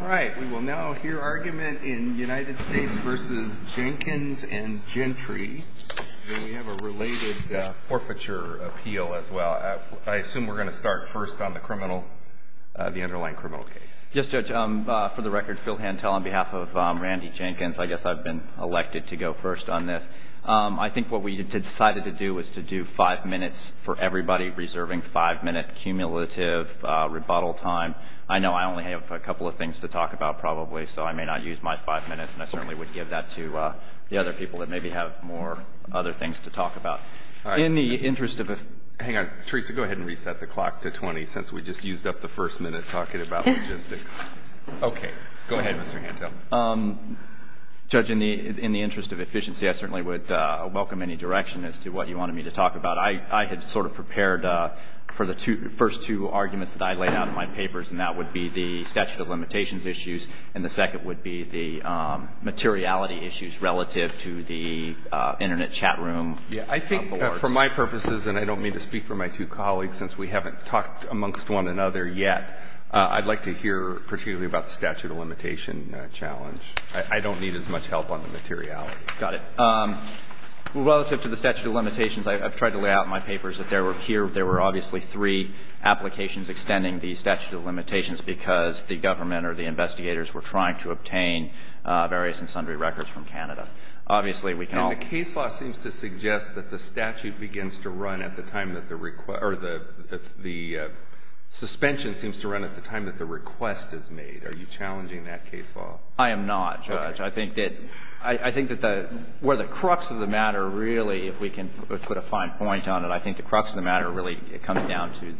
All right, we will now hear argument in United States v. Jenkins and Gentry. We have a related forfeiture appeal as well. I assume we're going to start first on the criminal, the underlying criminal case. Yes, Judge, for the record, Phil Hantel on behalf of Randy Jenkins. I guess I've been elected to go first on this. I think what we decided to do was to do five minutes for everybody, reserving five-minute cumulative rebuttal time. I know I only have a couple of things to talk about probably, so I may not use my five minutes, and I certainly would give that to the other people that maybe have more other things to talk about. All right. In the interest of – hang on. Theresa, go ahead and reset the clock to 20 since we just used up the first minute talking about logistics. Okay. Go ahead, Mr. Hantel. Judge, in the interest of efficiency, I certainly would welcome any direction as to what you wanted me to talk about. I had sort of prepared for the first two arguments that I laid out in my papers, and that would be the statute of limitations issues, and the second would be the materiality issues relative to the Internet chat room. I think for my purposes, and I don't mean to speak for my two colleagues since we haven't talked amongst one another yet, I'd like to hear particularly about the statute of limitation challenge. I don't need as much help on the materiality. Got it. Relative to the statute of limitations, I've tried to lay out in my papers that there were – here there were obviously three applications extending the statute of limitations because the government or the investigators were trying to obtain various and sundry records from Canada. Obviously, we can all – And the case law seems to suggest that the statute begins to run at the time that the – or the suspension seems to run at the time that the request is made. Are you challenging that case law? I am not, Judge. Okay. I think that – I think that where the crux of the matter really, if we can put a fine point on it, I think the crux of the matter really comes down to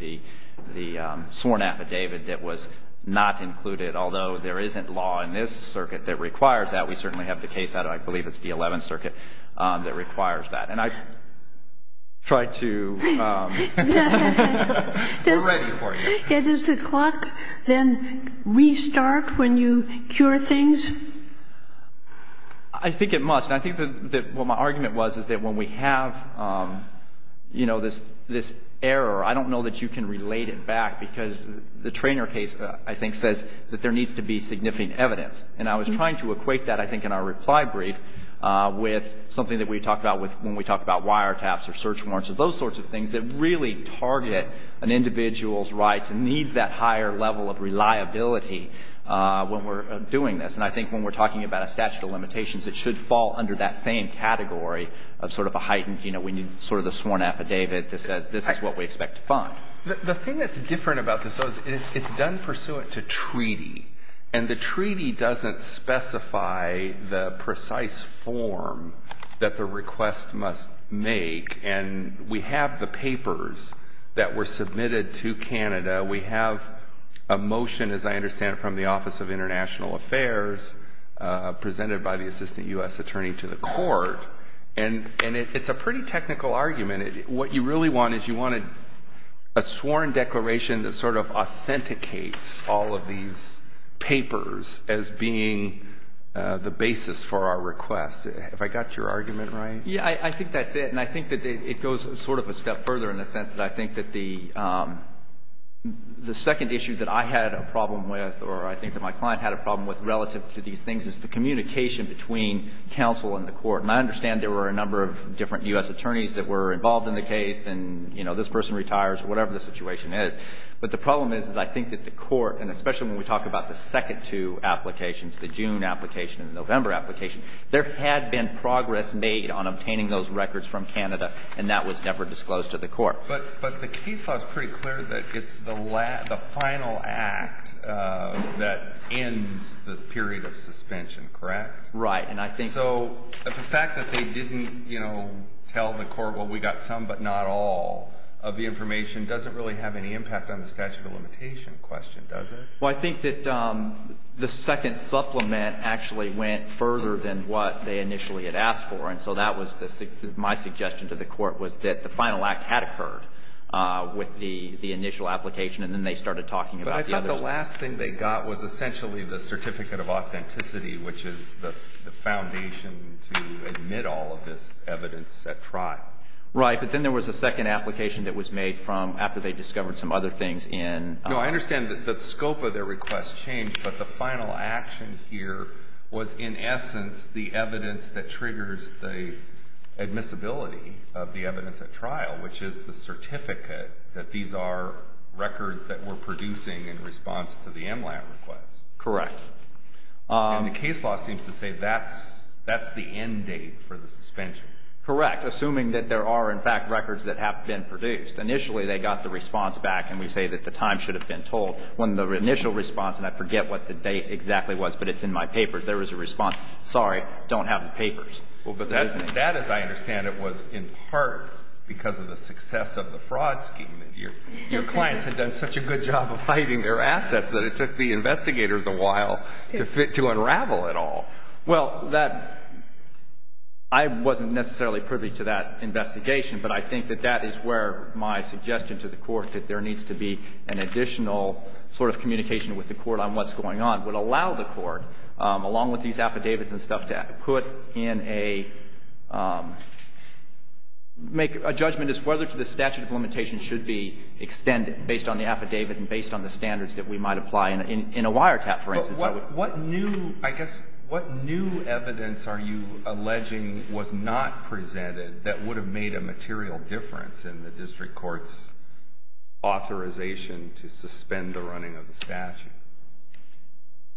the sworn affidavit that was not included, although there isn't law in this circuit that requires that. We certainly have the case out of – I believe it's the Eleventh Circuit that requires that. And I try to – We're ready for you. Does the clock then restart when you cure things? I think it must. And I think that what my argument was is that when we have, you know, this error, I don't know that you can relate it back because the Treanor case, I think, says that there needs to be significant evidence. And I was trying to equate that, I think, in our reply brief with something that we talk about when we talk about wiretaps or search warrants or those sorts of things that really target an individual's rights and needs that higher level of reliability when we're doing this. And I think when we're talking about a statute of limitations, it should fall under that same category of sort of a heightened, you know, we need sort of the sworn affidavit that says this is what we expect to find. The thing that's different about this is it's done pursuant to treaty. And the treaty doesn't specify the precise form that the request must make. And we have the papers that were submitted to Canada. We have a motion, as I understand it, from the Office of International Affairs, presented by the assistant U.S. attorney to the court. And it's a pretty technical argument. What you really want is you want a sworn declaration that sort of authenticates all of these papers as being the basis for our request. Have I got your argument right? Yeah, I think that's it. And I think that it goes sort of a step further in the sense that I think that the second issue that I had a problem with or I think that my client had a problem with relative to these things is the communication between counsel and the court. And I understand there were a number of different U.S. attorneys that were involved in the case and, you know, this person retires or whatever the situation is. But the problem is I think that the court, and especially when we talk about the second two applications, the June application and the November application, there had been progress made on obtaining those records from Canada, and that was never disclosed to the court. But the case law is pretty clear that it's the final act that ends the period of suspension, correct? Right. So the fact that they didn't, you know, tell the court, well, we got some but not all of the information, doesn't really have any impact on the statute of limitation question, does it? Well, I think that the second supplement actually went further than what they initially had asked for. And so that was my suggestion to the court was that the final act had occurred with the initial application, and then they started talking about the others. But I thought the last thing they got was essentially the certificate of authenticity, which is the foundation to admit all of this evidence at trial. Right. But then there was a second application that was made from after they discovered some other things in – No, I understand that the scope of their request changed, but the final action here was in essence the evidence that triggers the admissibility of the evidence at trial, which is the certificate that these are records that were producing in response to the MLAT request. Correct. And the case law seems to say that's the end date for the suspension. Correct, assuming that there are, in fact, records that have been produced. Initially, they got the response back, and we say that the time should have been told. When the initial response, and I forget what the date exactly was, but it's in my papers, there was a response, sorry, don't have the papers. Well, but that, as I understand it, was in part because of the success of the fraud scheme. Your clients had done such a good job of hiding their assets that it took the investigators a while to unravel it all. Well, that – I wasn't necessarily privy to that investigation, but I think that that is where my suggestion to the Court that there needs to be an additional sort of communication with the Court on what's going on would allow the Court, along with these affidavits and stuff, to put in a – make a judgment as to whether the statute of limitations should be extended based on the affidavit and based on the standards that we might apply in a wiretap, for instance. What new – I guess, what new evidence are you alleging was not presented that would have made a material difference in the district court's authorization to suspend the running of the statute?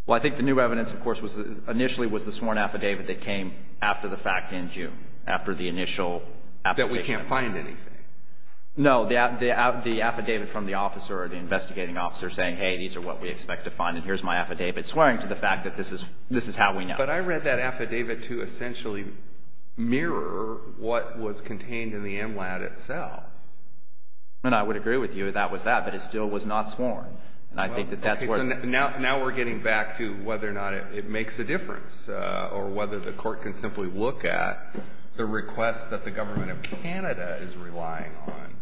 Well, I think the new evidence, of course, was – initially was the sworn affidavit that came after the fact in June, after the initial application. That we can't find anything. No, the affidavit from the officer or the investigating officer saying, hey, these are what we expect to find, and here's my affidavit, swearing to the fact that this is – this is how we know. But I read that affidavit to essentially mirror what was contained in the MLAT itself. And I would agree with you that was that, but it still was not sworn. And I think that that's where – Okay, so now we're getting back to whether or not it makes a difference or whether the Court can simply look at the request that the Government of Canada is relying on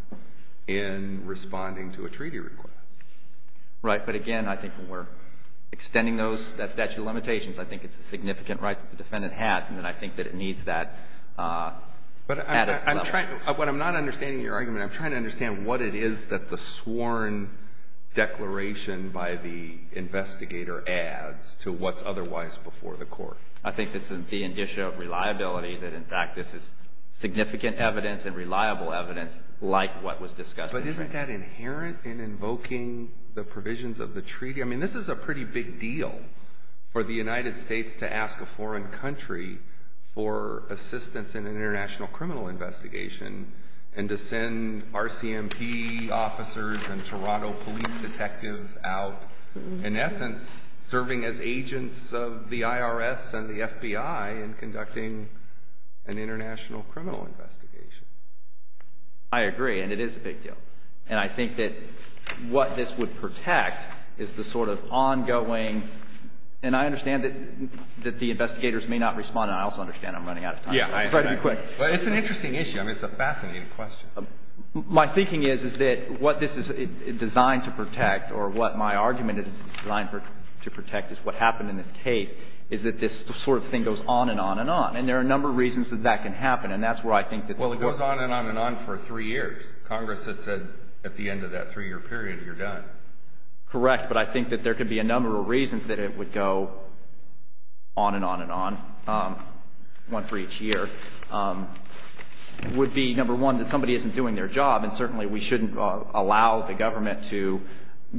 in responding to a treaty request. Right. But again, I think when we're extending those – that statute of limitations, I think it's a significant right that the defendant has, and then I think that it needs that at a level. But I'm trying – what I'm not understanding in your argument, I'm trying to understand what it is that the sworn declaration by the investigator adds to what's otherwise before the Court. I think it's the indicia of reliability that, in fact, this is significant evidence and reliable evidence like what was discussed in June. But isn't that inherent in invoking the provisions of the treaty? I mean, this is a pretty big deal for the United States to ask a foreign country for assistance in an international criminal investigation and to send RCMP officers and Toronto police detectives out, in essence serving as agents of the IRS and the FBI in conducting an international criminal investigation. I agree, and it is a big deal. And I think that what this would protect is the sort of ongoing – and I understand that the investigators may not respond, and I also understand I'm running out of time. Yeah, I agree. But it's an interesting issue. I mean, it's a fascinating question. My thinking is, is that what this is designed to protect, or what my argument is it's designed to protect is what happened in this case, is that this sort of thing goes on and on and on. And there are a number of reasons that that can happen, and that's where I think that – Well, it goes on and on and on for three years. Congress has said at the end of that three-year period, you're done. Correct, but I think that there could be a number of reasons that it would go on and on and on, one for each year. It would be, number one, that somebody isn't doing their job, and certainly we shouldn't allow the government to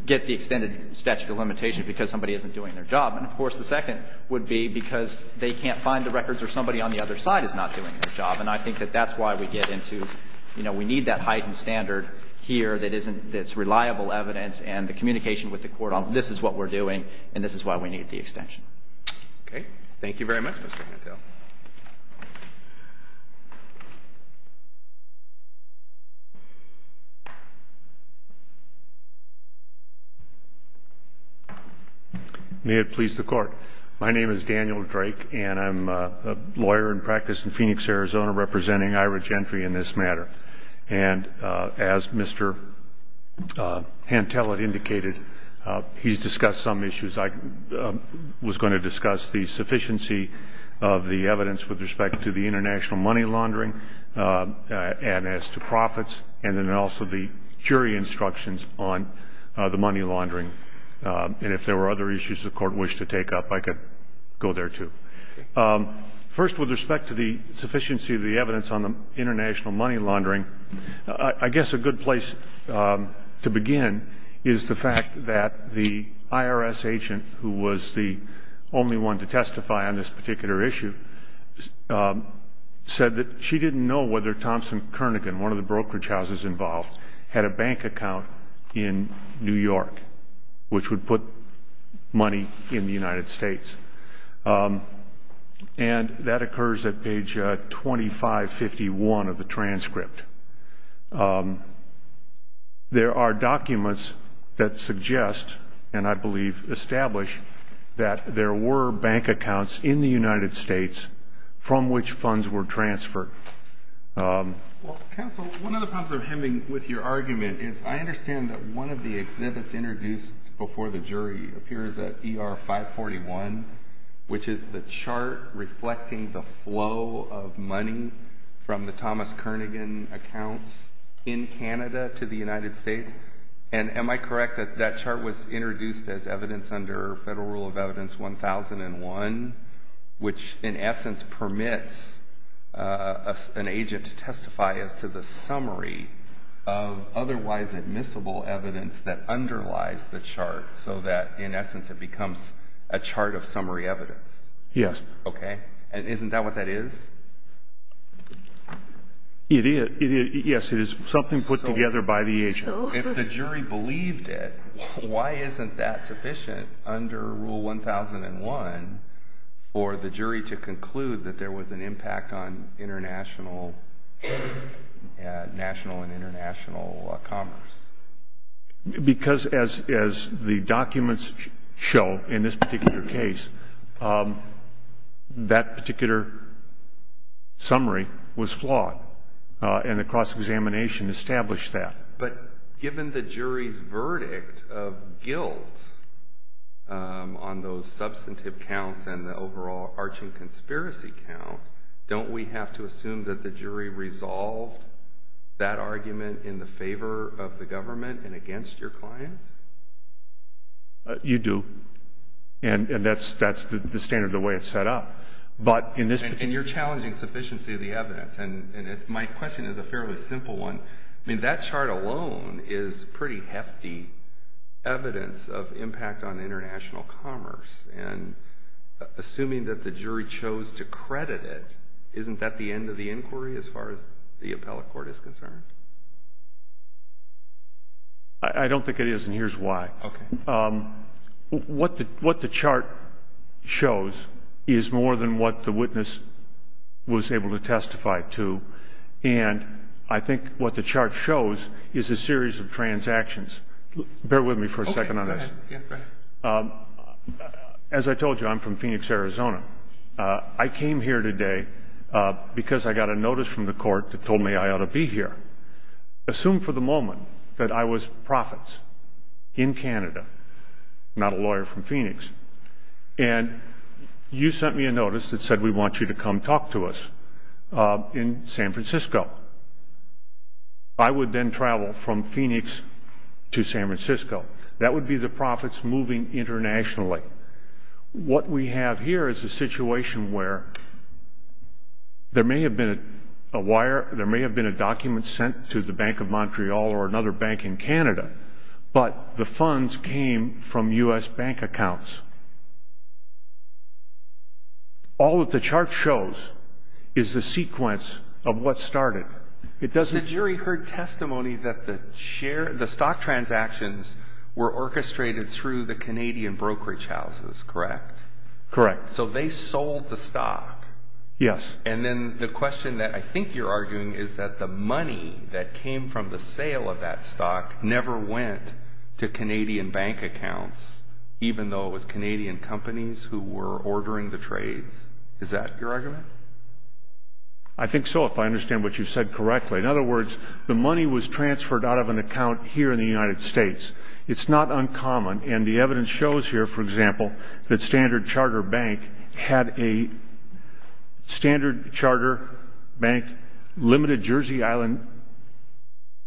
get the extended statute of limitations because somebody isn't doing their job. And, of course, the second would be because they can't find the records or somebody on the other side is not doing their job. And I think that that's why we get into – we need that heightened standard here that's reliable evidence and the communication with the court on this is what we're doing and this is why we need the extension. Okay. Thank you very much, Mr. Cantell. May it please the Court. My name is Daniel Drake, and I'm a lawyer in practice in Phoenix, Arizona, representing IHRA Gentry in this matter. And as Mr. Cantell had indicated, he's discussed some issues. I was going to discuss the sufficiency of the evidence with respect to the international money laundering and as to profits and then also the jury instructions on the money laundering. And if there were other issues the Court wished to take up, I could go there, too. First, with respect to the sufficiency of the evidence on the international money laundering, I guess a good place to begin is the fact that the IRS agent, who was the only one to testify on this particular issue, said that she didn't know whether Thompson Kernighan, one of the brokerage houses involved, had a bank account in New York, which would put money in the United States. And that occurs at page 2551 of the transcript. There are documents that suggest, and I believe establish, that there were bank accounts in the United States from which funds were transferred. Counsel, one of the problems with your argument is I understand that one of the exhibits introduced before the jury appears at ER 541, which is the chart reflecting the flow of money from the Thomas Kernighan accounts in Canada to the United States. And am I correct that that chart was introduced as evidence under Federal Rule of Evidence 1001, which in essence permits an agent to testify as to the summary of otherwise admissible evidence that underlies the chart so that in essence it becomes a chart of summary evidence? Yes. Okay. And isn't that what that is? It is. Yes, it is something put together by the agent. If the jury believed it, why isn't that sufficient under Rule 1001 for the jury to conclude that there was an impact on national and international commerce? Because as the documents show in this particular case, that particular summary was flawed, and the cross-examination established that. But given the jury's verdict of guilt on those substantive counts and the overall arching conspiracy count, don't we have to assume that the jury resolved that argument in the favor of the government and against your client? You do, and that's the standard of the way it's set up. And you're challenging sufficiency of the evidence, and my question is a fairly simple one. I mean, that chart alone is pretty hefty evidence of impact on international commerce, and assuming that the jury chose to credit it, isn't that the end of the inquiry as far as the appellate court is concerned? I don't think it is, and here's why. Okay. What the chart shows is more than what the witness was able to testify to, and I think what the chart shows is a series of transactions. Bear with me for a second on this. Okay, go ahead. As I told you, I'm from Phoenix, Arizona. I came here today because I got a notice from the court that told me I ought to be here. Assume for the moment that I was profits in Canada, not a lawyer from Phoenix, and you sent me a notice that said we want you to come talk to us in San Francisco. I would then travel from Phoenix to San Francisco. That would be the profits moving internationally. What we have here is a situation where there may have been a wire, there may have been a document sent to the Bank of Montreal or another bank in Canada, but the funds came from U.S. bank accounts. All that the chart shows is the sequence of what started. The jury heard testimony that the stock transactions were orchestrated through the Canadian brokerage houses, correct? Correct. So they sold the stock. Yes. And then the question that I think you're arguing is that the money that came from the sale of that stock never went to Canadian bank accounts, even though it was Canadian companies who were ordering the trades. Is that your argument? I think so, if I understand what you said correctly. In other words, the money was transferred out of an account here in the United States. It's not uncommon, and the evidence shows here, for example, that Standard Charter Bank had a Standard Charter Bank limited Jersey Island,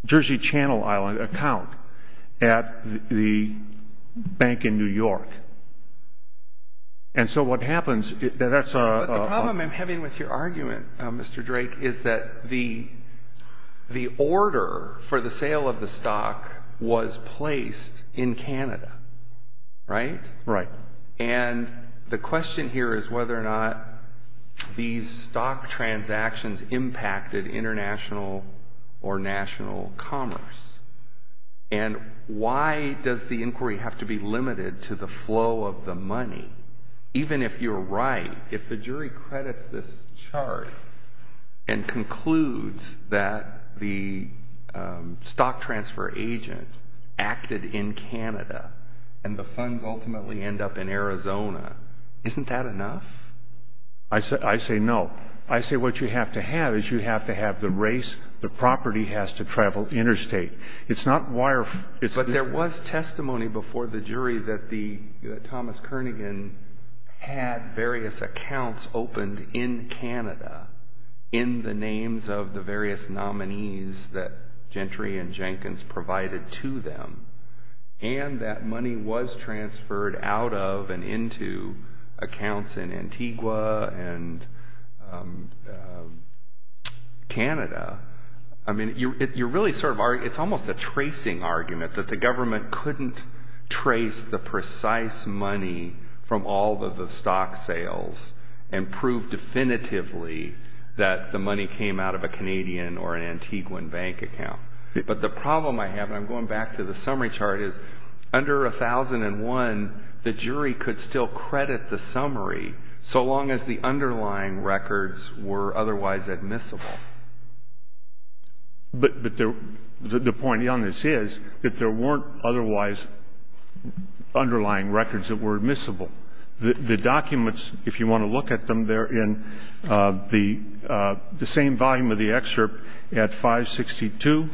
Jersey Channel Island account at the bank in New York. And so what happens, that's a – But the problem I'm having with your argument, Mr. Drake, is that the order for the sale of the stock was placed in Canada, right? Right. And the question here is whether or not these stock transactions impacted international or national commerce. And why does the inquiry have to be limited to the flow of the money? Even if you're right, if the jury credits this chart and concludes that the stock transfer agent acted in Canada and the funds ultimately end up in Arizona, isn't that enough? I say no. I say what you have to have is you have to have the race, the property has to travel interstate. It's not wire – But there was testimony before the jury that Thomas Kernighan had various accounts opened in Canada in the names of the various nominees that Gentry and Jenkins provided to them, and that money was transferred out of and into accounts in Antigua and Canada. I mean, you're really sort of – it's almost a tracing argument that the government couldn't trace the precise money from all of the stock sales and prove definitively that the money came out of a Canadian or an Antiguan bank account. But the problem I have, and I'm going back to the summary chart, is under 1001, the jury could still credit the summary so long as the underlying records were otherwise admissible. But the point on this is that there weren't otherwise underlying records that were admissible. The documents, if you want to look at them, they're in the same volume of the excerpt at 562,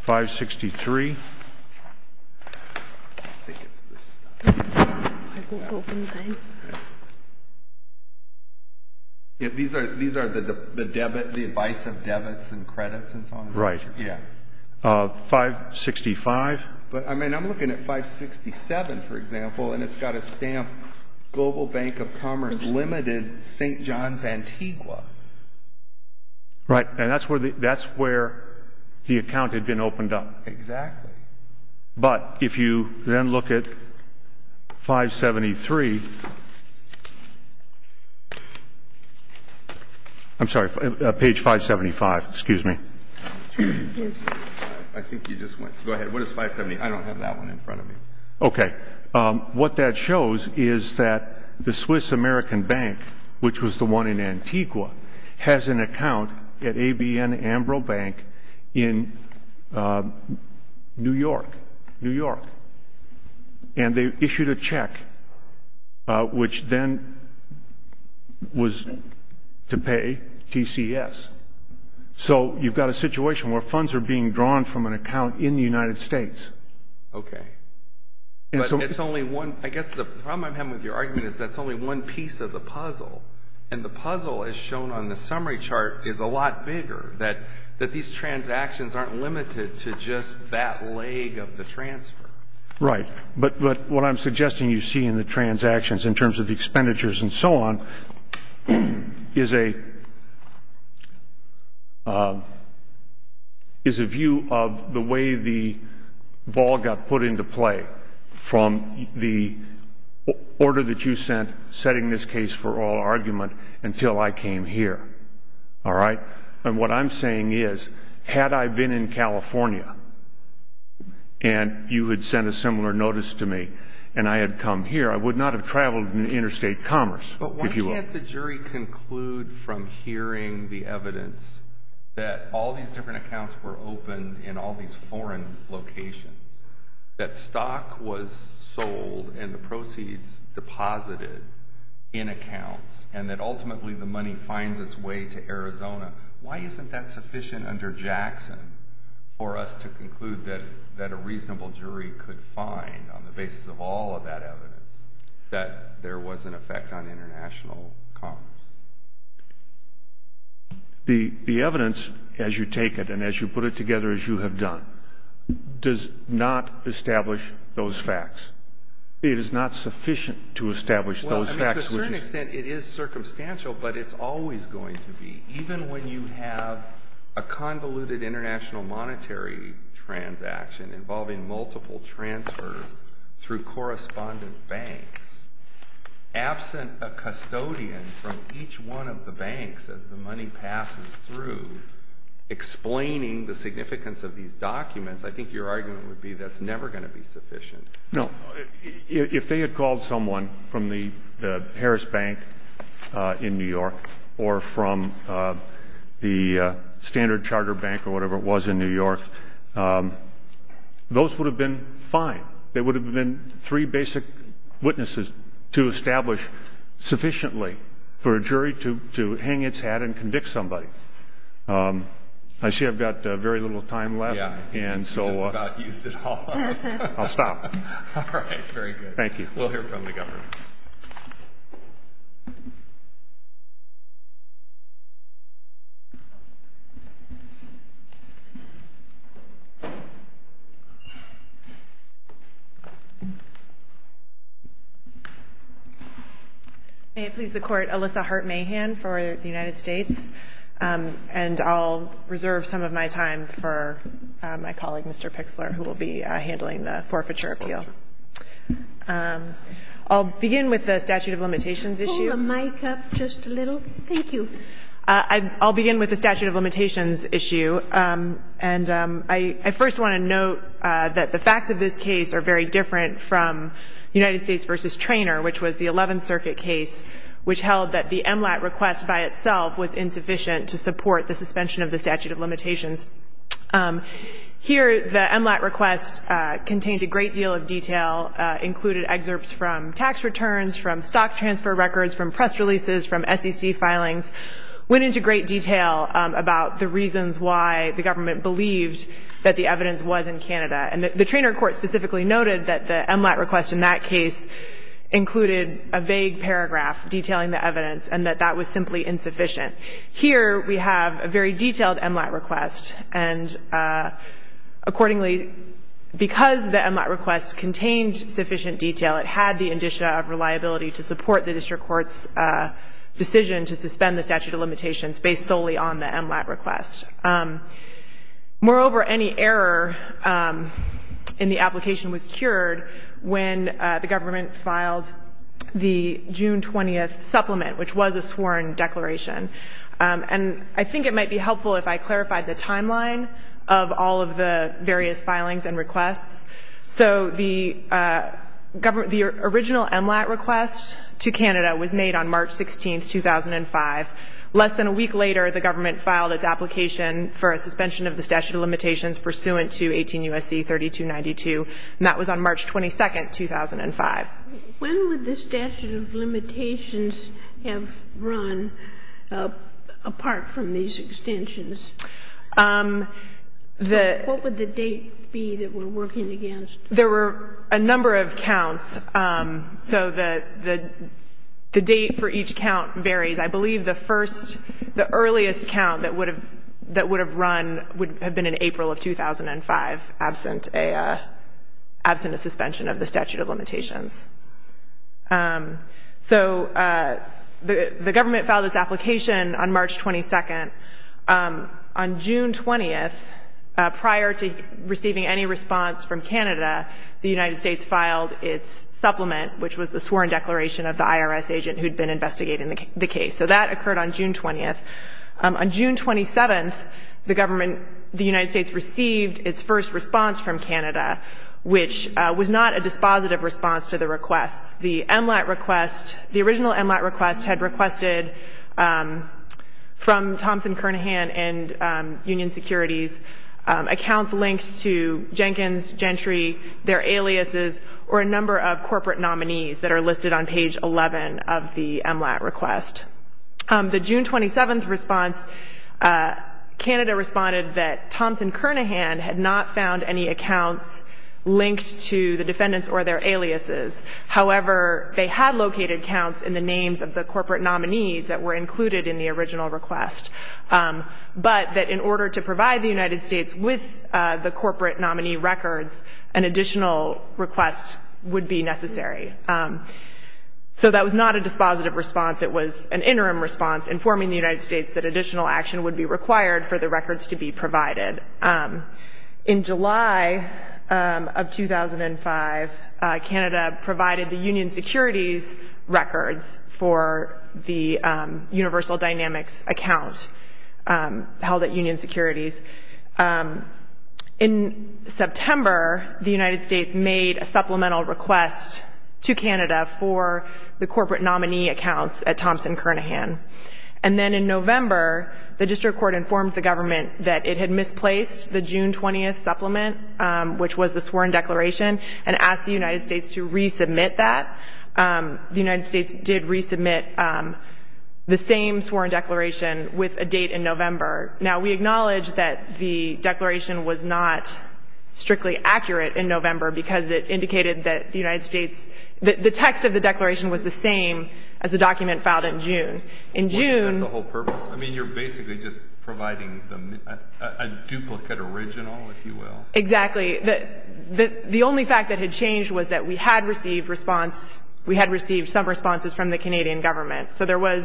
563. These are the advice of debits and credits and so on? Right. 565. But, I mean, I'm looking at 567, for example, and it's got a stamp, Global Bank of Commerce Limited, St. John's, Antigua. Right, and that's where the account had been opened up. Exactly. But if you then look at 573 – I'm sorry, page 575, excuse me. I think you just went – go ahead. What is 573? I don't have that one in front of me. Okay. What that shows is that the Swiss American Bank, which was the one in Antigua, has an account at ABN Ambro Bank in New York, New York. And they issued a check, which then was to pay TCS. So you've got a situation where funds are being drawn from an account in the United States. Okay. But it's only one – I guess the problem I'm having with your argument is that it's only one piece of the puzzle. And the puzzle, as shown on the summary chart, is a lot bigger, that these transactions aren't limited to just that leg of the transfer. Right. But what I'm suggesting you see in the transactions, in terms of the expenditures and so on, is a view of the way the ball got put into play from the order that you sent, setting this case for all argument, until I came here. All right? And what I'm saying is, had I been in California and you had sent a similar notice to me and I had come here, I would not have traveled in interstate commerce, if you will. But why can't the jury conclude from hearing the evidence that all these different accounts were opened in all these foreign locations, that stock was sold and the proceeds deposited in accounts, and that ultimately the money finds its way to Arizona, why isn't that sufficient under Jackson for us to conclude that a reasonable jury could find, on the basis of all of that evidence, that there was an effect on international commerce? The evidence, as you take it and as you put it together, as you have done, does not establish those facts. It is not sufficient to establish those facts. To a certain extent it is circumstantial, but it's always going to be. Even when you have a convoluted international monetary transaction involving multiple transfers through correspondent banks, absent a custodian from each one of the banks as the money passes through, explaining the significance of these documents, I think your argument would be that's never going to be sufficient. No. If they had called someone from the Harris Bank in New York or from the Standard Charter Bank or whatever it was in New York, those would have been fine. There would have been three basic witnesses to establish sufficiently for a jury to hang its hat and convict somebody. I see I've got very little time left. I'll stop. All right. Very good. Thank you. We'll hear from the government. May it please the Court, Alyssa Hart-Mahan for the United States. And I'll reserve some of my time for my colleague, Mr. Pixler, who will be handling the forfeiture appeal. I'll begin with the statute of limitations issue. Pull the mic up just a little. Thank you. I'll begin with the statute of limitations issue. And I first want to note that the facts of this case are very different from United States v. the 11th Circuit case, which held that the MLAT request by itself was insufficient to support the suspension of the statute of limitations. Here, the MLAT request contained a great deal of detail, included excerpts from tax returns, from stock transfer records, from press releases, from SEC filings, went into great detail about the reasons why the government believed that the evidence was in Canada. And the trainer court specifically noted that the MLAT request in that case included a vague paragraph detailing the evidence and that that was simply insufficient. Here, we have a very detailed MLAT request. And accordingly, because the MLAT request contained sufficient detail, it had the indicia of reliability to support the district court's decision to suspend the statute of limitations based solely on the MLAT request. Moreover, any error in the application was cured when the government filed the June 20th supplement, which was a sworn declaration. And I think it might be helpful if I clarified the timeline of all of the various filings and requests. So the original MLAT request to Canada was made on March 16, 2005. Less than a week later, the government filed its application for a suspension of the statute of limitations pursuant to 18 U.S.C. 3292, and that was on March 22, 2005. When would the statute of limitations have run apart from these extensions? What would the date be that we're working against? There were a number of counts. So the date for each count varies. I believe the first, the earliest count that would have run would have been in April of 2005, absent a suspension of the statute of limitations. So the government filed its application on March 22nd. On June 20th, prior to receiving any response from Canada, the United States filed its supplement, which was the sworn declaration of the IRS agent who had been investigating the case. So that occurred on June 20th. On June 27th, the government, the United States received its first response from Canada, which was not a dispositive response to the requests. The MLAT request, the original MLAT request had requested from Thompson, Kernaghan and Union Securities accounts linked to Jenkins, Gentry, their aliases, or a number of corporate nominees that are listed on page 11 of the MLAT request. The June 27th response, Canada responded that Thompson, Kernaghan had not found any accounts linked to the defendants or their aliases. However, they had located counts in the names of the corporate nominees that were included in the original request. But that in order to provide the United States with the corporate nominee records, an additional request would be necessary. So that was not a dispositive response, it was an interim response informing the United States that additional action would be required for the records to be provided. In July of 2005, Canada provided the Union Securities records for the Universal Dynamics account held at Union Securities. In September, the United States made a supplemental request to Canada for the corporate nominee accounts at Thompson, Kernaghan. And then in November, the district court informed the government that it had misplaced the June 20th supplement, which was the sworn declaration, and asked the United States to resubmit that. The United States did resubmit the same sworn declaration with a date in November. Now, we acknowledge that the declaration was not strictly accurate in November because it indicated that the United States, that the text of the declaration was the same as the document filed in June. In June... I mean, you're basically just providing them a duplicate original, if you will? Exactly. The only fact that had changed was that we had received response, we had received some responses from the Canadian government. So there was,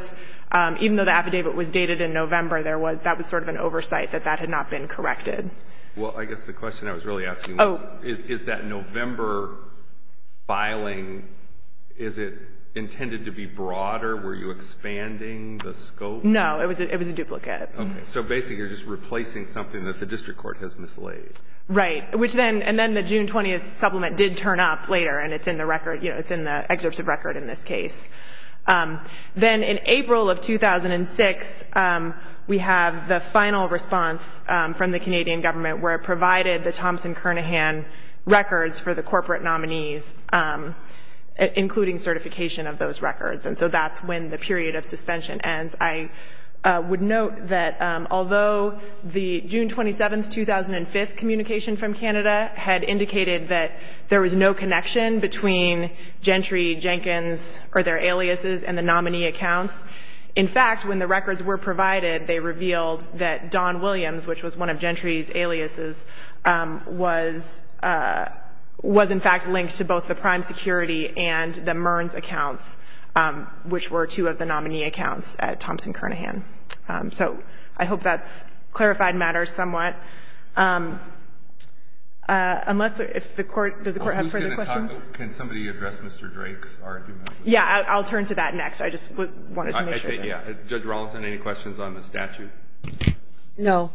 even though the affidavit was dated in November, that was sort of an oversight that that had not been corrected. Well, I guess the question I was really asking was, is that November filing, is it intended to be broader? Were you expanding the scope? No, it was a duplicate. Okay, so basically you're just replacing something that the district court has mislaid. Right, which then, and then the June 20th supplement did turn up later, and it's in the record, you know, it's in the excerpt of record in this case. Then in April of 2006, we have the final response from the Canadian government where it provided the Thompson-Kernaghan records for the corporate nominees, including certification of those records. And so that's when the period of suspension ends. I would note that although the June 27, 2005 communication from Canada had indicated that there was no connection between Gentry, Jenkins, or their aliases, and the nominee accounts, in fact, when the records were provided, they revealed that Don Williams, which was one of Gentry's aliases, was in fact linked to both the prime security and the Mearns accounts, which were two of the nominee accounts at Thompson-Kernaghan. So I hope that's clarified matters somewhat. Unless if the Court, does the Court have further questions? Can somebody address Mr. Drake's argument? Yeah, I'll turn to that next. I just wanted to make sure. Yeah. Judge Rawlinson, any questions on the statute? No.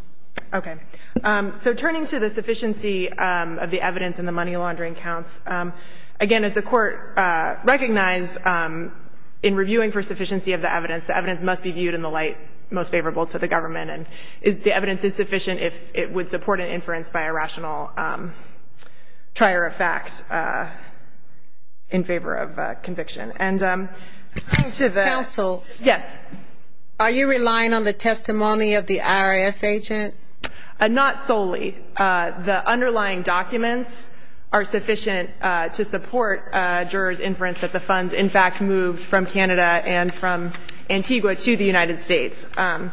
Okay. So turning to the sufficiency of the evidence in the money laundering accounts, again, as the Court recognized in reviewing for sufficiency of the evidence, the evidence must be viewed in the light most favorable to the government. And the evidence is sufficient if it would support an inference by a rational trier of facts in favor of conviction. And to the ‑‑ Counsel. Yes. Are you relying on the testimony of the IRS agent? Not solely. The underlying documents are sufficient to support jurors' inference that the funds, in fact, moved from Canada and from Antigua to the United States. And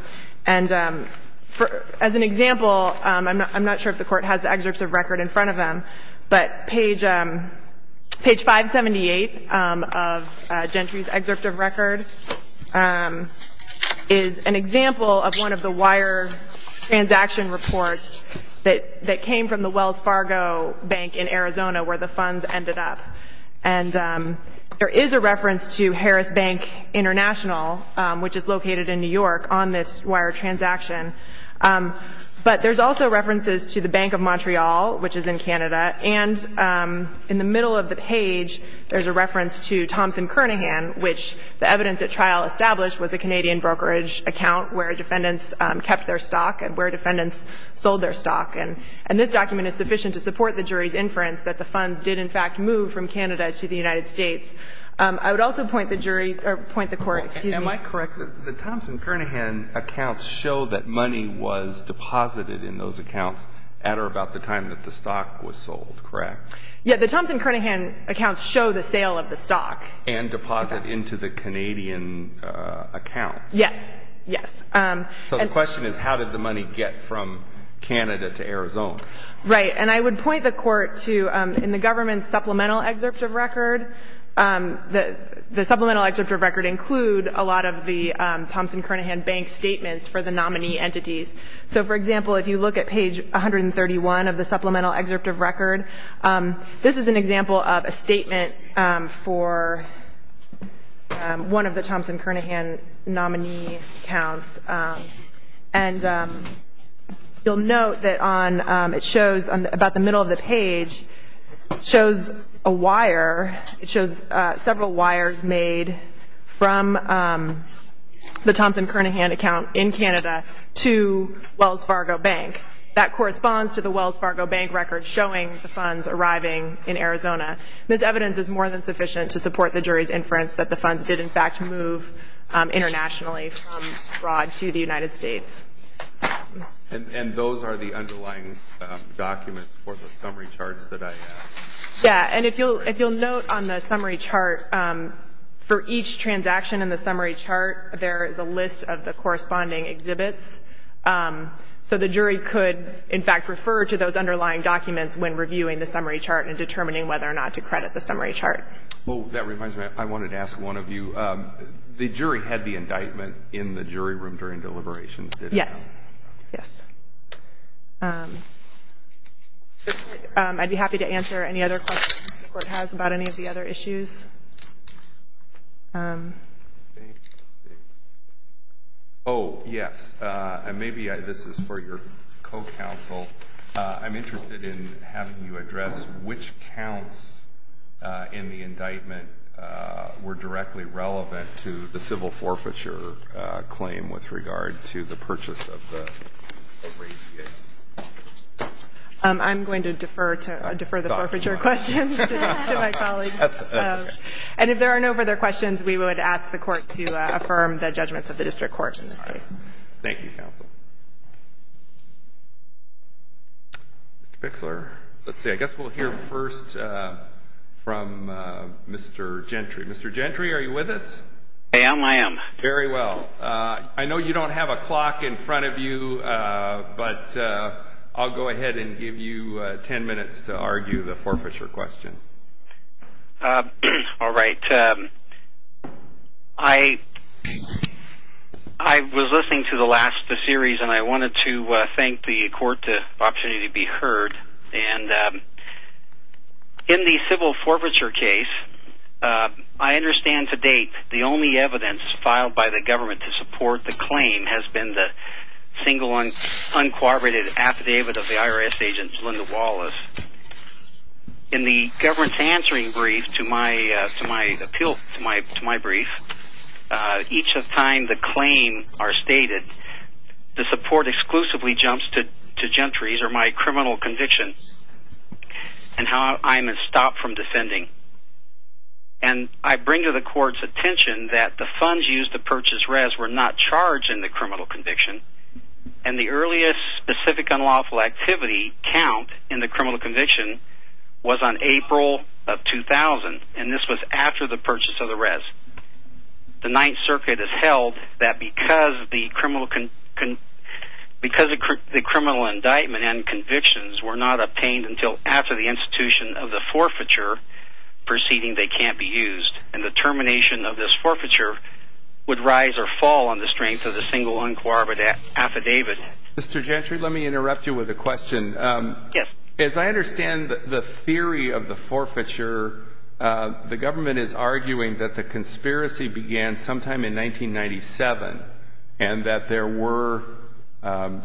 as an example, I'm not sure if the Court has the excerpts of record in front of them, but page 578 of Gentry's excerpt of record is an example of one of the wire transaction reports that came from the Wells Fargo Bank in Arizona where the funds ended up. And there is a reference to Harris Bank International, which is located in New York, on this wire transaction. But there's also references to the Bank of Montreal, which is in Canada. And in the middle of the page, there's a reference to Thompson‑Kernaghan, which the evidence at trial established was a Canadian brokerage account where defendants kept their stock and where defendants sold their stock. And this document is sufficient to support the jury's inference that the funds did, in fact, move from Canada to the United States. I would also point the jury ‑‑ or point the Court, excuse me. Am I correct that the Thompson‑Kernaghan accounts show that money was deposited in those accounts at or about the time that the stock was sold, correct? Yes. The Thompson‑Kernaghan accounts show the sale of the stock. And deposit into the Canadian account. Yes. Yes. So the question is, how did the money get from Canada to Arizona? Right. And I would point the Court to, in the government's supplemental excerpt of record, the supplemental excerpt of record include a lot of the Thompson‑Kernaghan bank statements for the nominee entities. So, for example, if you look at page 131 of the supplemental excerpt of record, this is an example of a statement for one of the Thompson‑Kernaghan nominee accounts. And you'll note that on ‑‑ it shows, about the middle of the page, it shows a wire, it shows several wires made from the Thompson‑Kernaghan account in Canada to Wells Fargo Bank. That corresponds to the Wells Fargo Bank record showing the funds arriving in Arizona. This evidence is more than sufficient to support the jury's inference that the funds did, in fact, move internationally from abroad to the United States. And those are the underlying documents for the summary charts that I have. Yes. And if you'll note on the summary chart, for each transaction in the summary chart, there is a list of the corresponding exhibits. So the jury could, in fact, refer to those underlying documents when reviewing the summary chart and determining whether or not to credit the summary chart. Oh, that reminds me. I wanted to ask one of you. The jury had the indictment in the jury room during deliberations, did it not? Yes. Yes. I'd be happy to answer any other questions the Court has about any of the other issues. Oh, yes. And maybe this is for your co‑counsel. I'm interested in having you address which counts in the indictment were directly relevant to the civil forfeiture claim with regard to the purchase of the APA. I'm going to defer the forfeiture questions to my colleague. And if there are no further questions, we would ask the Court to affirm the judgments of the District Court in this case. Thank you, counsel. Mr. Pixler, let's see. I guess we'll hear first from Mr. Gentry. Mr. Gentry, are you with us? I am. I am. Very well. I know you don't have a clock in front of you, but I'll go ahead and give you 10 minutes to argue the forfeiture questions. All right. I was listening to the last of the series, and I wanted to thank the Court for the opportunity to be heard. And in the civil forfeiture case, I understand to date the only evidence filed by the government to support the claim has been the single, uncooperative affidavit of the IRS agent Linda Wallace. In the government's answering brief to my brief, each time the claims are stated, the support exclusively jumps to Gentry's or my criminal conviction and how I'm stopped from defending. And I bring to the Court's attention that the funds used to purchase Rez were not charged in the criminal conviction, and the earliest specific unlawful activity count in the criminal conviction was on April of 2000, and this was after the purchase of the Rez. The Ninth Circuit has held that because the criminal indictment and convictions were not obtained until after the institution of the forfeiture, proceeding they can't be used, and the termination of this forfeiture would rise or fall on the strength of the single, uncooperative affidavit. Mr. Gentry, let me interrupt you with a question. Yes. As I understand the theory of the forfeiture, the government is arguing that the conspiracy began sometime in 1997 and that there were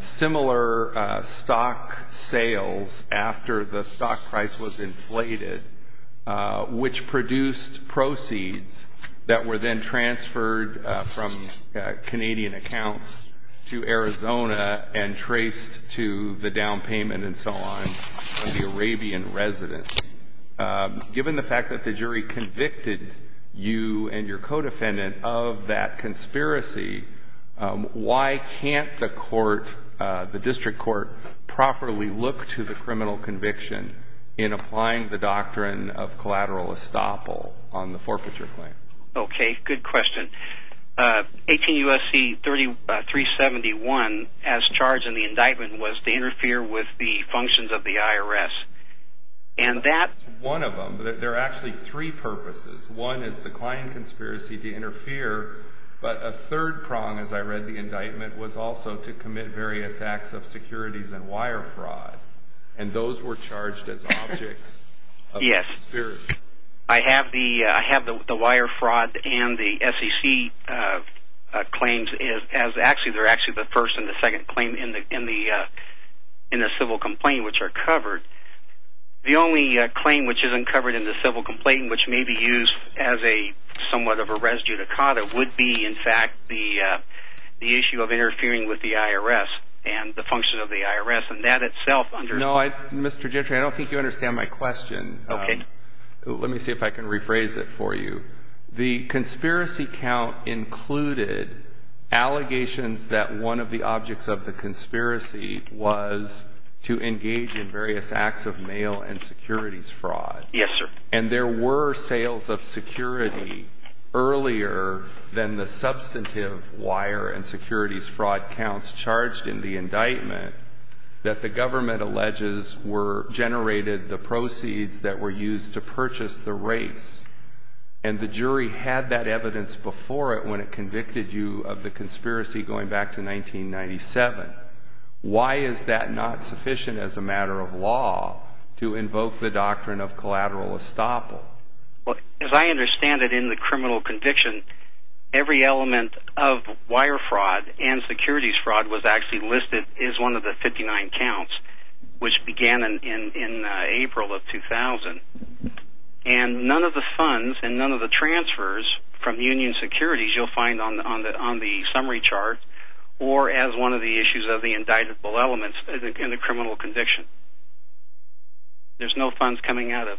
similar stock sales after the stock price was inflated, which produced proceeds that were then transferred from Canadian accounts to Arizona and traced to the down payment and so on of the Arabian residents. Given the fact that the jury convicted you and your co-defendant of that conspiracy, why can't the court, the district court, properly look to the criminal conviction in applying the doctrine of collateral estoppel on the forfeiture claim? Okay, good question. 18 U.S.C. 371, as charged in the indictment, was to interfere with the functions of the IRS. And that's one of them. There are actually three purposes. One is the client conspiracy to interfere, but a third prong, as I read the indictment, was also to commit various acts of securities and wire fraud, and those were charged as objects of the conspiracy. Yes. I have the wire fraud and the SEC claims as actually, they're actually the first and the second claim in the civil complaint, which are covered. The only claim which isn't covered in the civil complaint, which may be used as somewhat of a res judicata, would be, in fact, the issue of interfering with the IRS and the function of the IRS, and that itself. No, Mr. Gentry, I don't think you understand my question. Okay. Let me see if I can rephrase it for you. The conspiracy count included allegations that one of the objects of the conspiracy was to engage in various acts of mail and securities fraud. Yes, sir. And there were sales of security earlier than the substantive wire and securities fraud counts charged in the indictment that the government alleges were generated, the proceeds that were used to purchase the race, and the jury had that evidence before it when it convicted you of the conspiracy going back to 1997. Why is that not sufficient as a matter of law to invoke the doctrine of collateral estoppel? Well, as I understand it, in the criminal conviction, every element of wire fraud and securities fraud was actually listed as one of the 59 counts, which began in April of 2000. And none of the funds and none of the transfers from union securities you'll find on the summary chart or as one of the issues of the indictable elements in the criminal conviction. There's no funds coming out of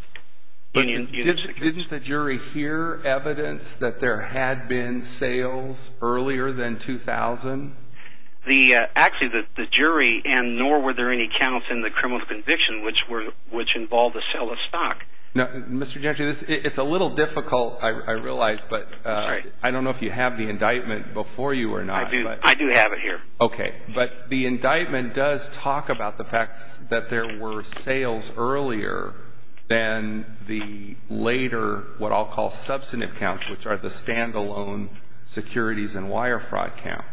union securities. Didn't the jury hear evidence that there had been sales earlier than 2000? Actually, the jury and nor were there any counts in the criminal conviction, which involved the sale of stock. Mr. Gentry, it's a little difficult, I realize, but I don't know if you have the indictment before you or not. I do have it here. Okay. But the indictment does talk about the fact that there were sales earlier than the later what I'll call substantive counts, which are the standalone securities and wire fraud counts.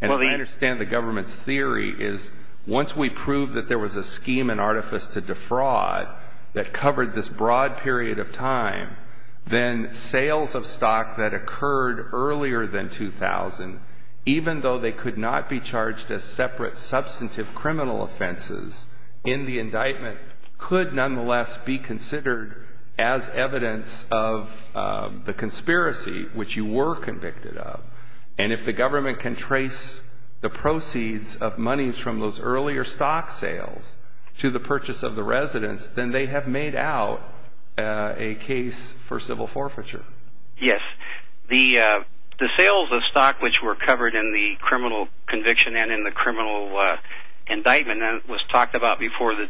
And as I understand the government's theory is once we prove that there was a scheme and artifice to defraud that covered this broad period of time, then sales of stock that occurred earlier than 2000, even though they could not be charged as separate substantive criminal offenses, in the indictment could nonetheless be considered as evidence of the conspiracy, which you were convicted of. And if the government can trace the proceeds of monies from those earlier stock sales to the purchase of the residence, then they have made out a case for civil forfeiture. Yes. The sales of stock which were covered in the criminal conviction and in the criminal indictment that was talked about before the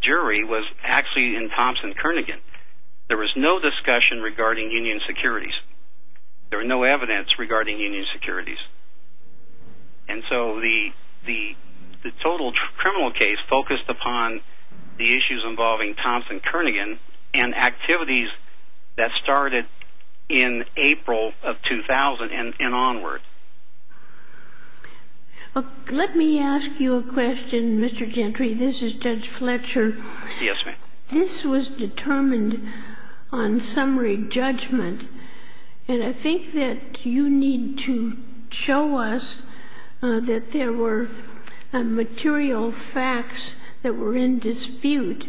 jury was actually in Thompson Kernaghan. There was no discussion regarding union securities. There was no evidence regarding union securities. And so the total criminal case focused upon the issues involving Thompson Kernaghan and activities that started in April of 2000 and onward. Let me ask you a question, Mr. Gentry. This is Judge Fletcher. Yes, ma'am. This was determined on summary judgment, and I think that you need to show us that there were material facts that were in dispute.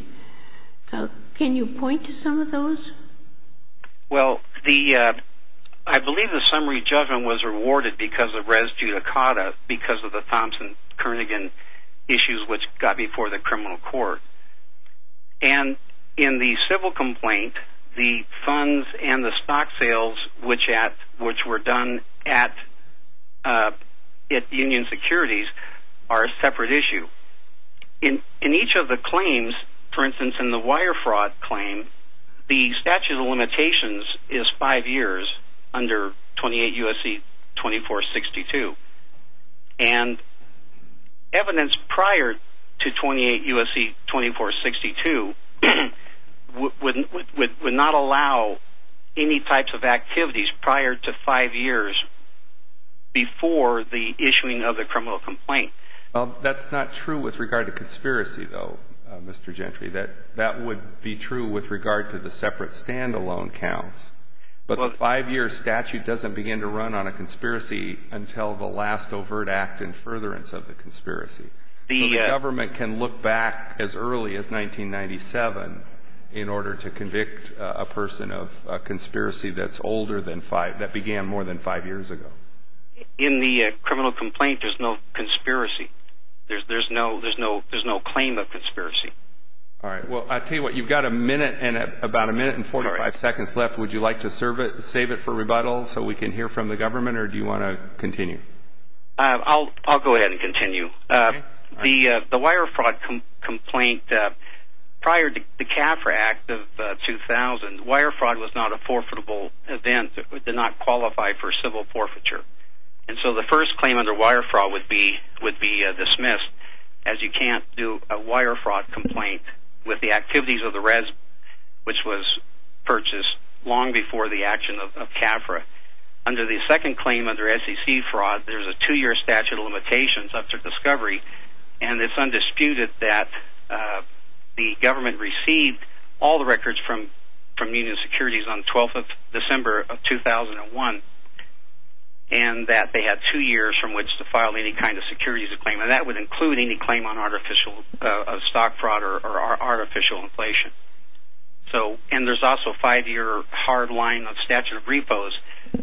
Can you point to some of those? Well, I believe the summary judgment was rewarded because of res judicata because of the Thompson Kernaghan issues which got before the criminal court. And in the civil complaint, the funds and the stock sales which were done at union securities are a separate issue. In each of the claims, for instance, in the wire fraud claim, the statute of limitations is five years under 28 U.S.C. 2462. And evidence prior to 28 U.S.C. 2462 would not allow any types of activities prior to five years before the issuing of the criminal complaint. Well, that's not true with regard to conspiracy, though, Mr. Gentry. That would be true with regard to the separate standalone counts. But the five-year statute doesn't begin to run on a conspiracy until the last overt act in furtherance of the conspiracy. So the government can look back as early as 1997 in order to convict a person of a conspiracy that began more than five years ago. In the criminal complaint, there's no conspiracy. There's no claim of conspiracy. All right. Well, I'll tell you what. You've got about a minute and 45 seconds left. Would you like to save it for rebuttal so we can hear from the government, or do you want to continue? I'll go ahead and continue. The wire fraud complaint, prior to the CAFRA Act of 2000, wire fraud was not a forfeitable event. It did not qualify for civil forfeiture. And so the first claim under wire fraud would be dismissed as you can't do a wire fraud complaint with the activities of the res, which was purchased long before the action of CAFRA. Under the second claim, under SEC fraud, there's a two-year statute of limitations up to discovery, and it's undisputed that the government received all the records from Union Securities on December 12, 2001, and that they had two years from which to file any kind of securities claim. And that would include any claim on artificial stock fraud or artificial inflation. And there's also a five-year hard line on statute of repos,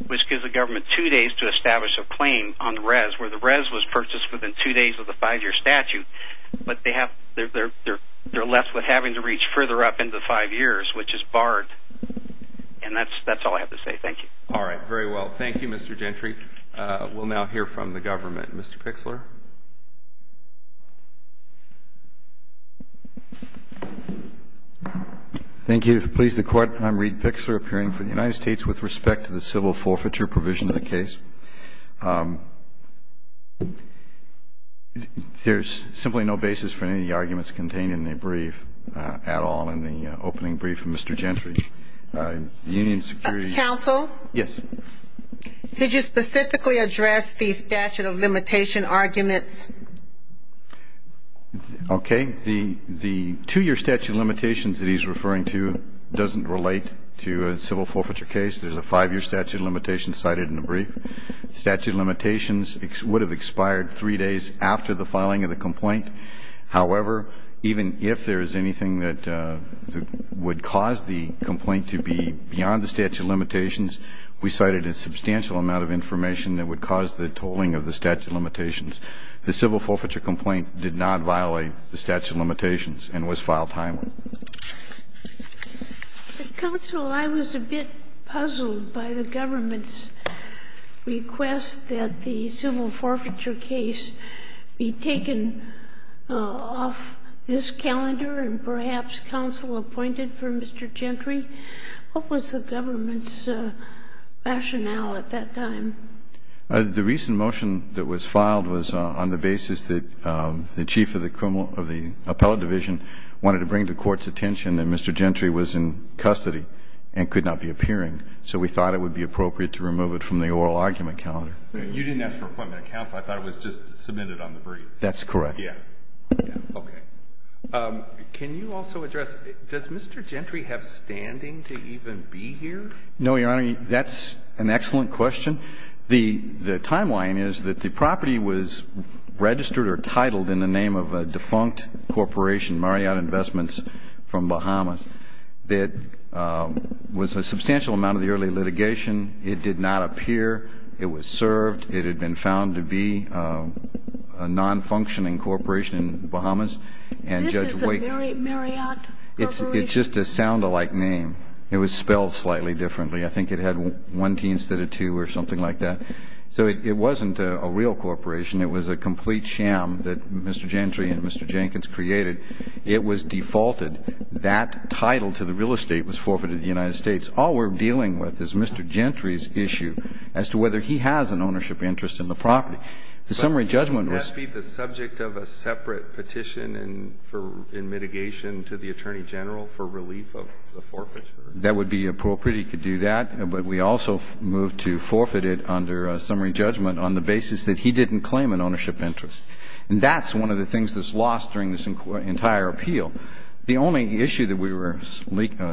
which gives the government two days to establish a claim on the res, where the res was purchased within two days of the five-year statute, but they're left with having to reach further up into five years, which is barred. And that's all I have to say. Thank you. All right. Very well. Thank you, Mr. Gentry. We'll now hear from the government. Mr. Pixler. Thank you. Please, the Court, I'm Reid Pixler, appearing for the United States with respect to the civil forfeiture provision of the case. There's simply no basis for any of the arguments contained in the brief at all in the opening brief from Mr. Gentry. Union Securities ---- Counsel? Yes. Did you specifically address the statute of limitation arguments? Okay. The two-year statute of limitations that he's referring to doesn't relate to a civil forfeiture case. There's a five-year statute of limitations cited in the brief. Statute of limitations would have expired three days after the filing of the complaint. However, even if there is anything that would cause the complaint to be beyond the statute of limitations, we cited a substantial amount of information that would cause the tolling of the statute of limitations. The civil forfeiture complaint did not violate the statute of limitations and was filed timely. Counsel, I was a bit puzzled by the government's request that the civil forfeiture case be taken off this calendar and perhaps counsel appointed for Mr. Gentry. What was the government's rationale at that time? The recent motion that was filed was on the basis that the chief of the appellate division wanted to bring to court's attention that Mr. Gentry was in custody and could not be appearing. So we thought it would be appropriate to remove it from the oral argument calendar. You didn't ask for appointment of counsel. I thought it was just submitted on the brief. That's correct. Yes. Okay. Can you also address, does Mr. Gentry have standing to even be here? No, Your Honor. That's an excellent question. The timeline is that the property was registered or titled in the name of a defunct corporation, Marriott Investments from Bahamas, that was a substantial amount of the early litigation. It did not appear. It was served. It had been found to be a non-functioning corporation in Bahamas. This is a Marriott Corporation? It's just a sound-alike name. It was spelled slightly differently. I think it had one T instead of two or something like that. So it wasn't a real corporation. It was a complete sham that Mr. Gentry and Mr. Jenkins created. It was defaulted. That title to the real estate was forfeited to the United States. All we're dealing with is Mr. Gentry's issue as to whether he has an ownership interest in the property. The summary judgment was ---- But wouldn't that be the subject of a separate petition in mitigation to the Attorney General for relief of the forfeiture? That would be appropriate. He could do that. But we also moved to forfeit it under summary judgment on the basis that he didn't claim an ownership interest. And that's one of the things that's lost during this entire appeal. The only issue that we were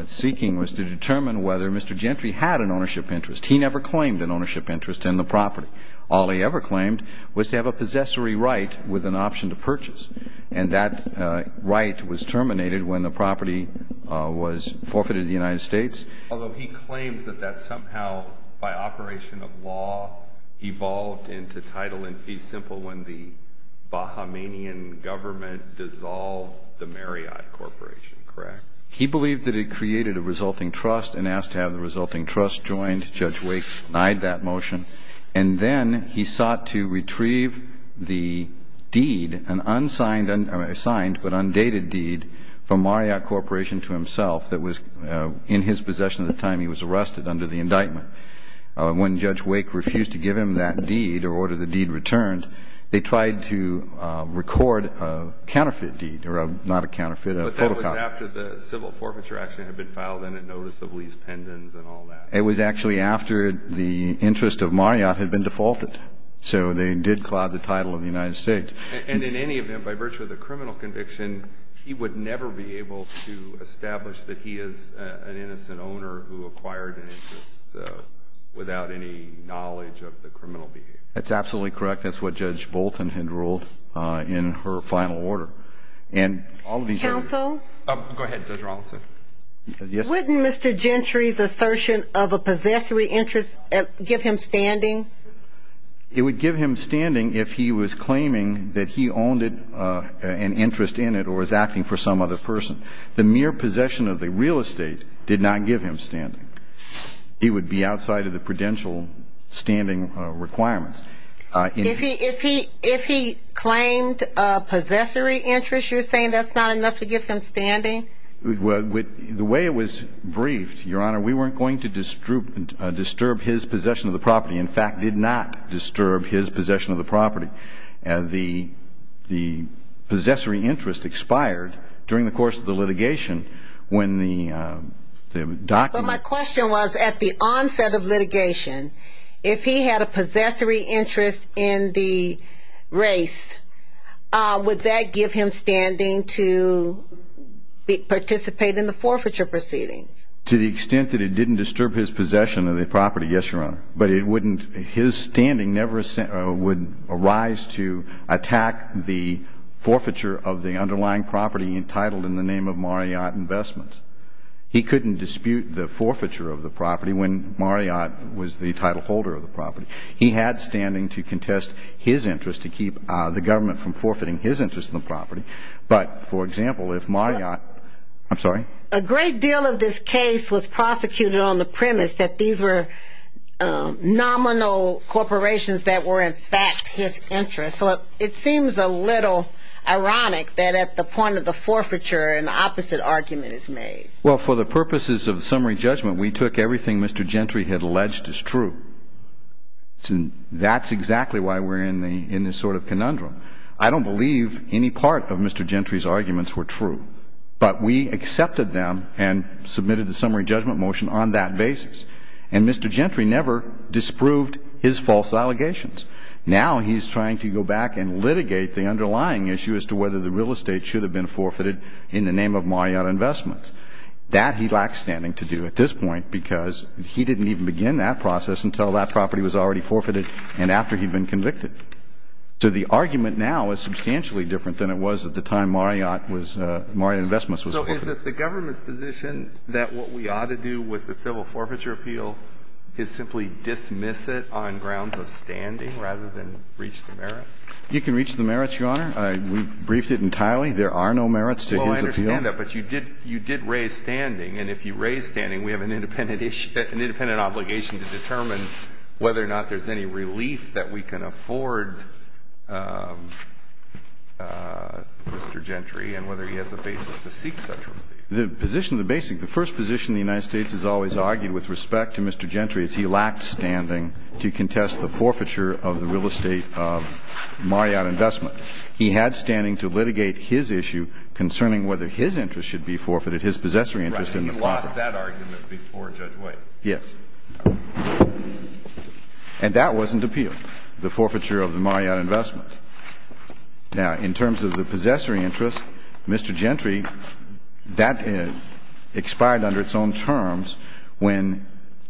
seeking was to determine whether Mr. Gentry had an ownership interest. He never claimed an ownership interest in the property. All he ever claimed was to have a possessory right with an option to purchase. And that right was terminated when the property was forfeited to the United States. Although he claims that that somehow by operation of law evolved into title in fee simple when the Bahamanian government dissolved the Marriott Corporation, correct? He believed that it created a resulting trust and asked to have the resulting trust joined. Judge Wake denied that motion. And then he sought to retrieve the deed, an unsigned or signed but undated deed from Marriott Corporation to himself that was in his possession at the time he was arrested under the indictment. When Judge Wake refused to give him that deed or order the deed returned, they tried to record a counterfeit deed or not a counterfeit, a photocopy. But that was after the civil forfeiture action had been filed and a notice of lease pendants and all that. It was actually after the interest of Marriott had been defaulted. So they did cloud the title of the United States. And in any event, by virtue of the criminal conviction, he would never be able to establish that he is an innocent owner who acquired an interest without any knowledge of the criminal behavior. That's absolutely correct. That's what Judge Bolton had ruled in her final order. Counsel? Go ahead, Judge Robinson. Wouldn't Mr. Gentry's assertion of a possessory interest give him standing? It would give him standing if he was claiming that he owned an interest in it or was acting for some other person. The mere possession of the real estate did not give him standing. It would be outside of the prudential standing requirements. If he claimed a possessory interest, you're saying that's not enough to give him standing? The way it was briefed, Your Honor, we weren't going to disturb his possession of the property. In fact, did not disturb his possession of the property. The possessory interest expired during the course of the litigation when the document… But my question was, at the onset of litigation, if he had a possessory interest in the race, would that give him standing to participate in the forfeiture proceedings? To the extent that it didn't disturb his possession of the property, yes, Your Honor. But his standing would arise to attack the forfeiture of the underlying property entitled in the name of Marriott Investments. He couldn't dispute the forfeiture of the property when Marriott was the title holder of the property. He had standing to contest his interest to keep the government from forfeiting his interest in the property. But, for example, if Marriott… I'm sorry? A great deal of this case was prosecuted on the premise that these were nominal corporations that were, in fact, his interest. So it seems a little ironic that at the point of the forfeiture, an opposite argument is made. Well, for the purposes of summary judgment, we took everything Mr. Gentry had alleged as true. That's exactly why we're in this sort of conundrum. I don't believe any part of Mr. Gentry's arguments were true. But we accepted them and submitted the summary judgment motion on that basis. And Mr. Gentry never disproved his false allegations. Now he's trying to go back and litigate the underlying issue as to whether the real estate should have been forfeited in the name of Marriott Investments. That he lacked standing to do at this point because he didn't even begin that process until that property was already forfeited and after he'd been convicted. So the argument now is substantially different than it was at the time Marriott Investments was forfeited. So is it the government's position that what we ought to do with the civil forfeiture appeal is simply dismiss it on grounds of standing rather than reach the merits? You can reach the merits, Your Honor. We've briefed it entirely. There are no merits to his appeal. Well, I understand that. But you did raise standing. And if you raise standing, we have an independent obligation to determine whether or not there's any relief that we can afford Mr. Gentry and whether he has a basis to seek such relief. The position, the basic, the first position the United States has always argued with respect to Mr. Gentry is he lacked standing to contest the forfeiture of the real estate of Marriott Investments. He had standing to litigate his issue concerning whether his interest should be forfeited, his possessory interest in the property. Right, and he lost that argument before Judge White. Yes. And that wasn't appeal, the forfeiture of the Marriott Investments. Now, in terms of the possessory interest, Mr. Gentry, that expired under its own terms when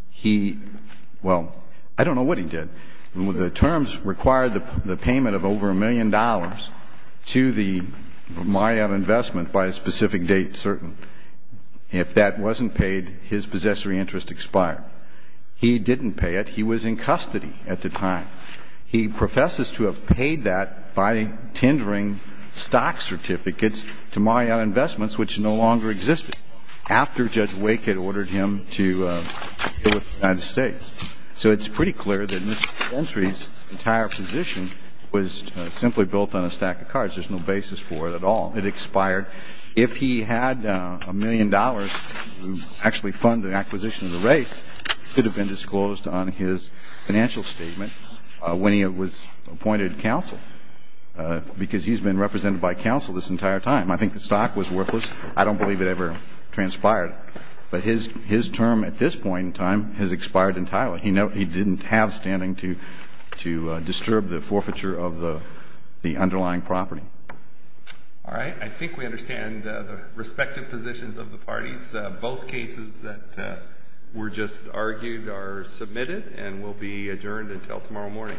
he, well, I don't know what he did. The terms required the payment of over a million dollars to the Marriott Investment by a specific date, certain. If that wasn't paid, his possessory interest expired. He didn't pay it. He was in custody at the time. He professes to have paid that by tendering stock certificates to Marriott Investments, which no longer existed after Judge Wake had ordered him to deal with the United States. So it's pretty clear that Mr. Gentry's entire position was simply built on a stack of cards. There's no basis for it at all. It expired. If he had a million dollars to actually fund the acquisition of the race, that could have been disclosed on his financial statement when he was appointed counsel, because he's been represented by counsel this entire time. I think the stock was worthless. I don't believe it ever transpired. But his term at this point in time has expired entirely. He didn't have standing to disturb the forfeiture of the underlying property. All right. I think we understand the respective positions of the parties. Both cases that were just argued are submitted and will be adjourned until tomorrow morning.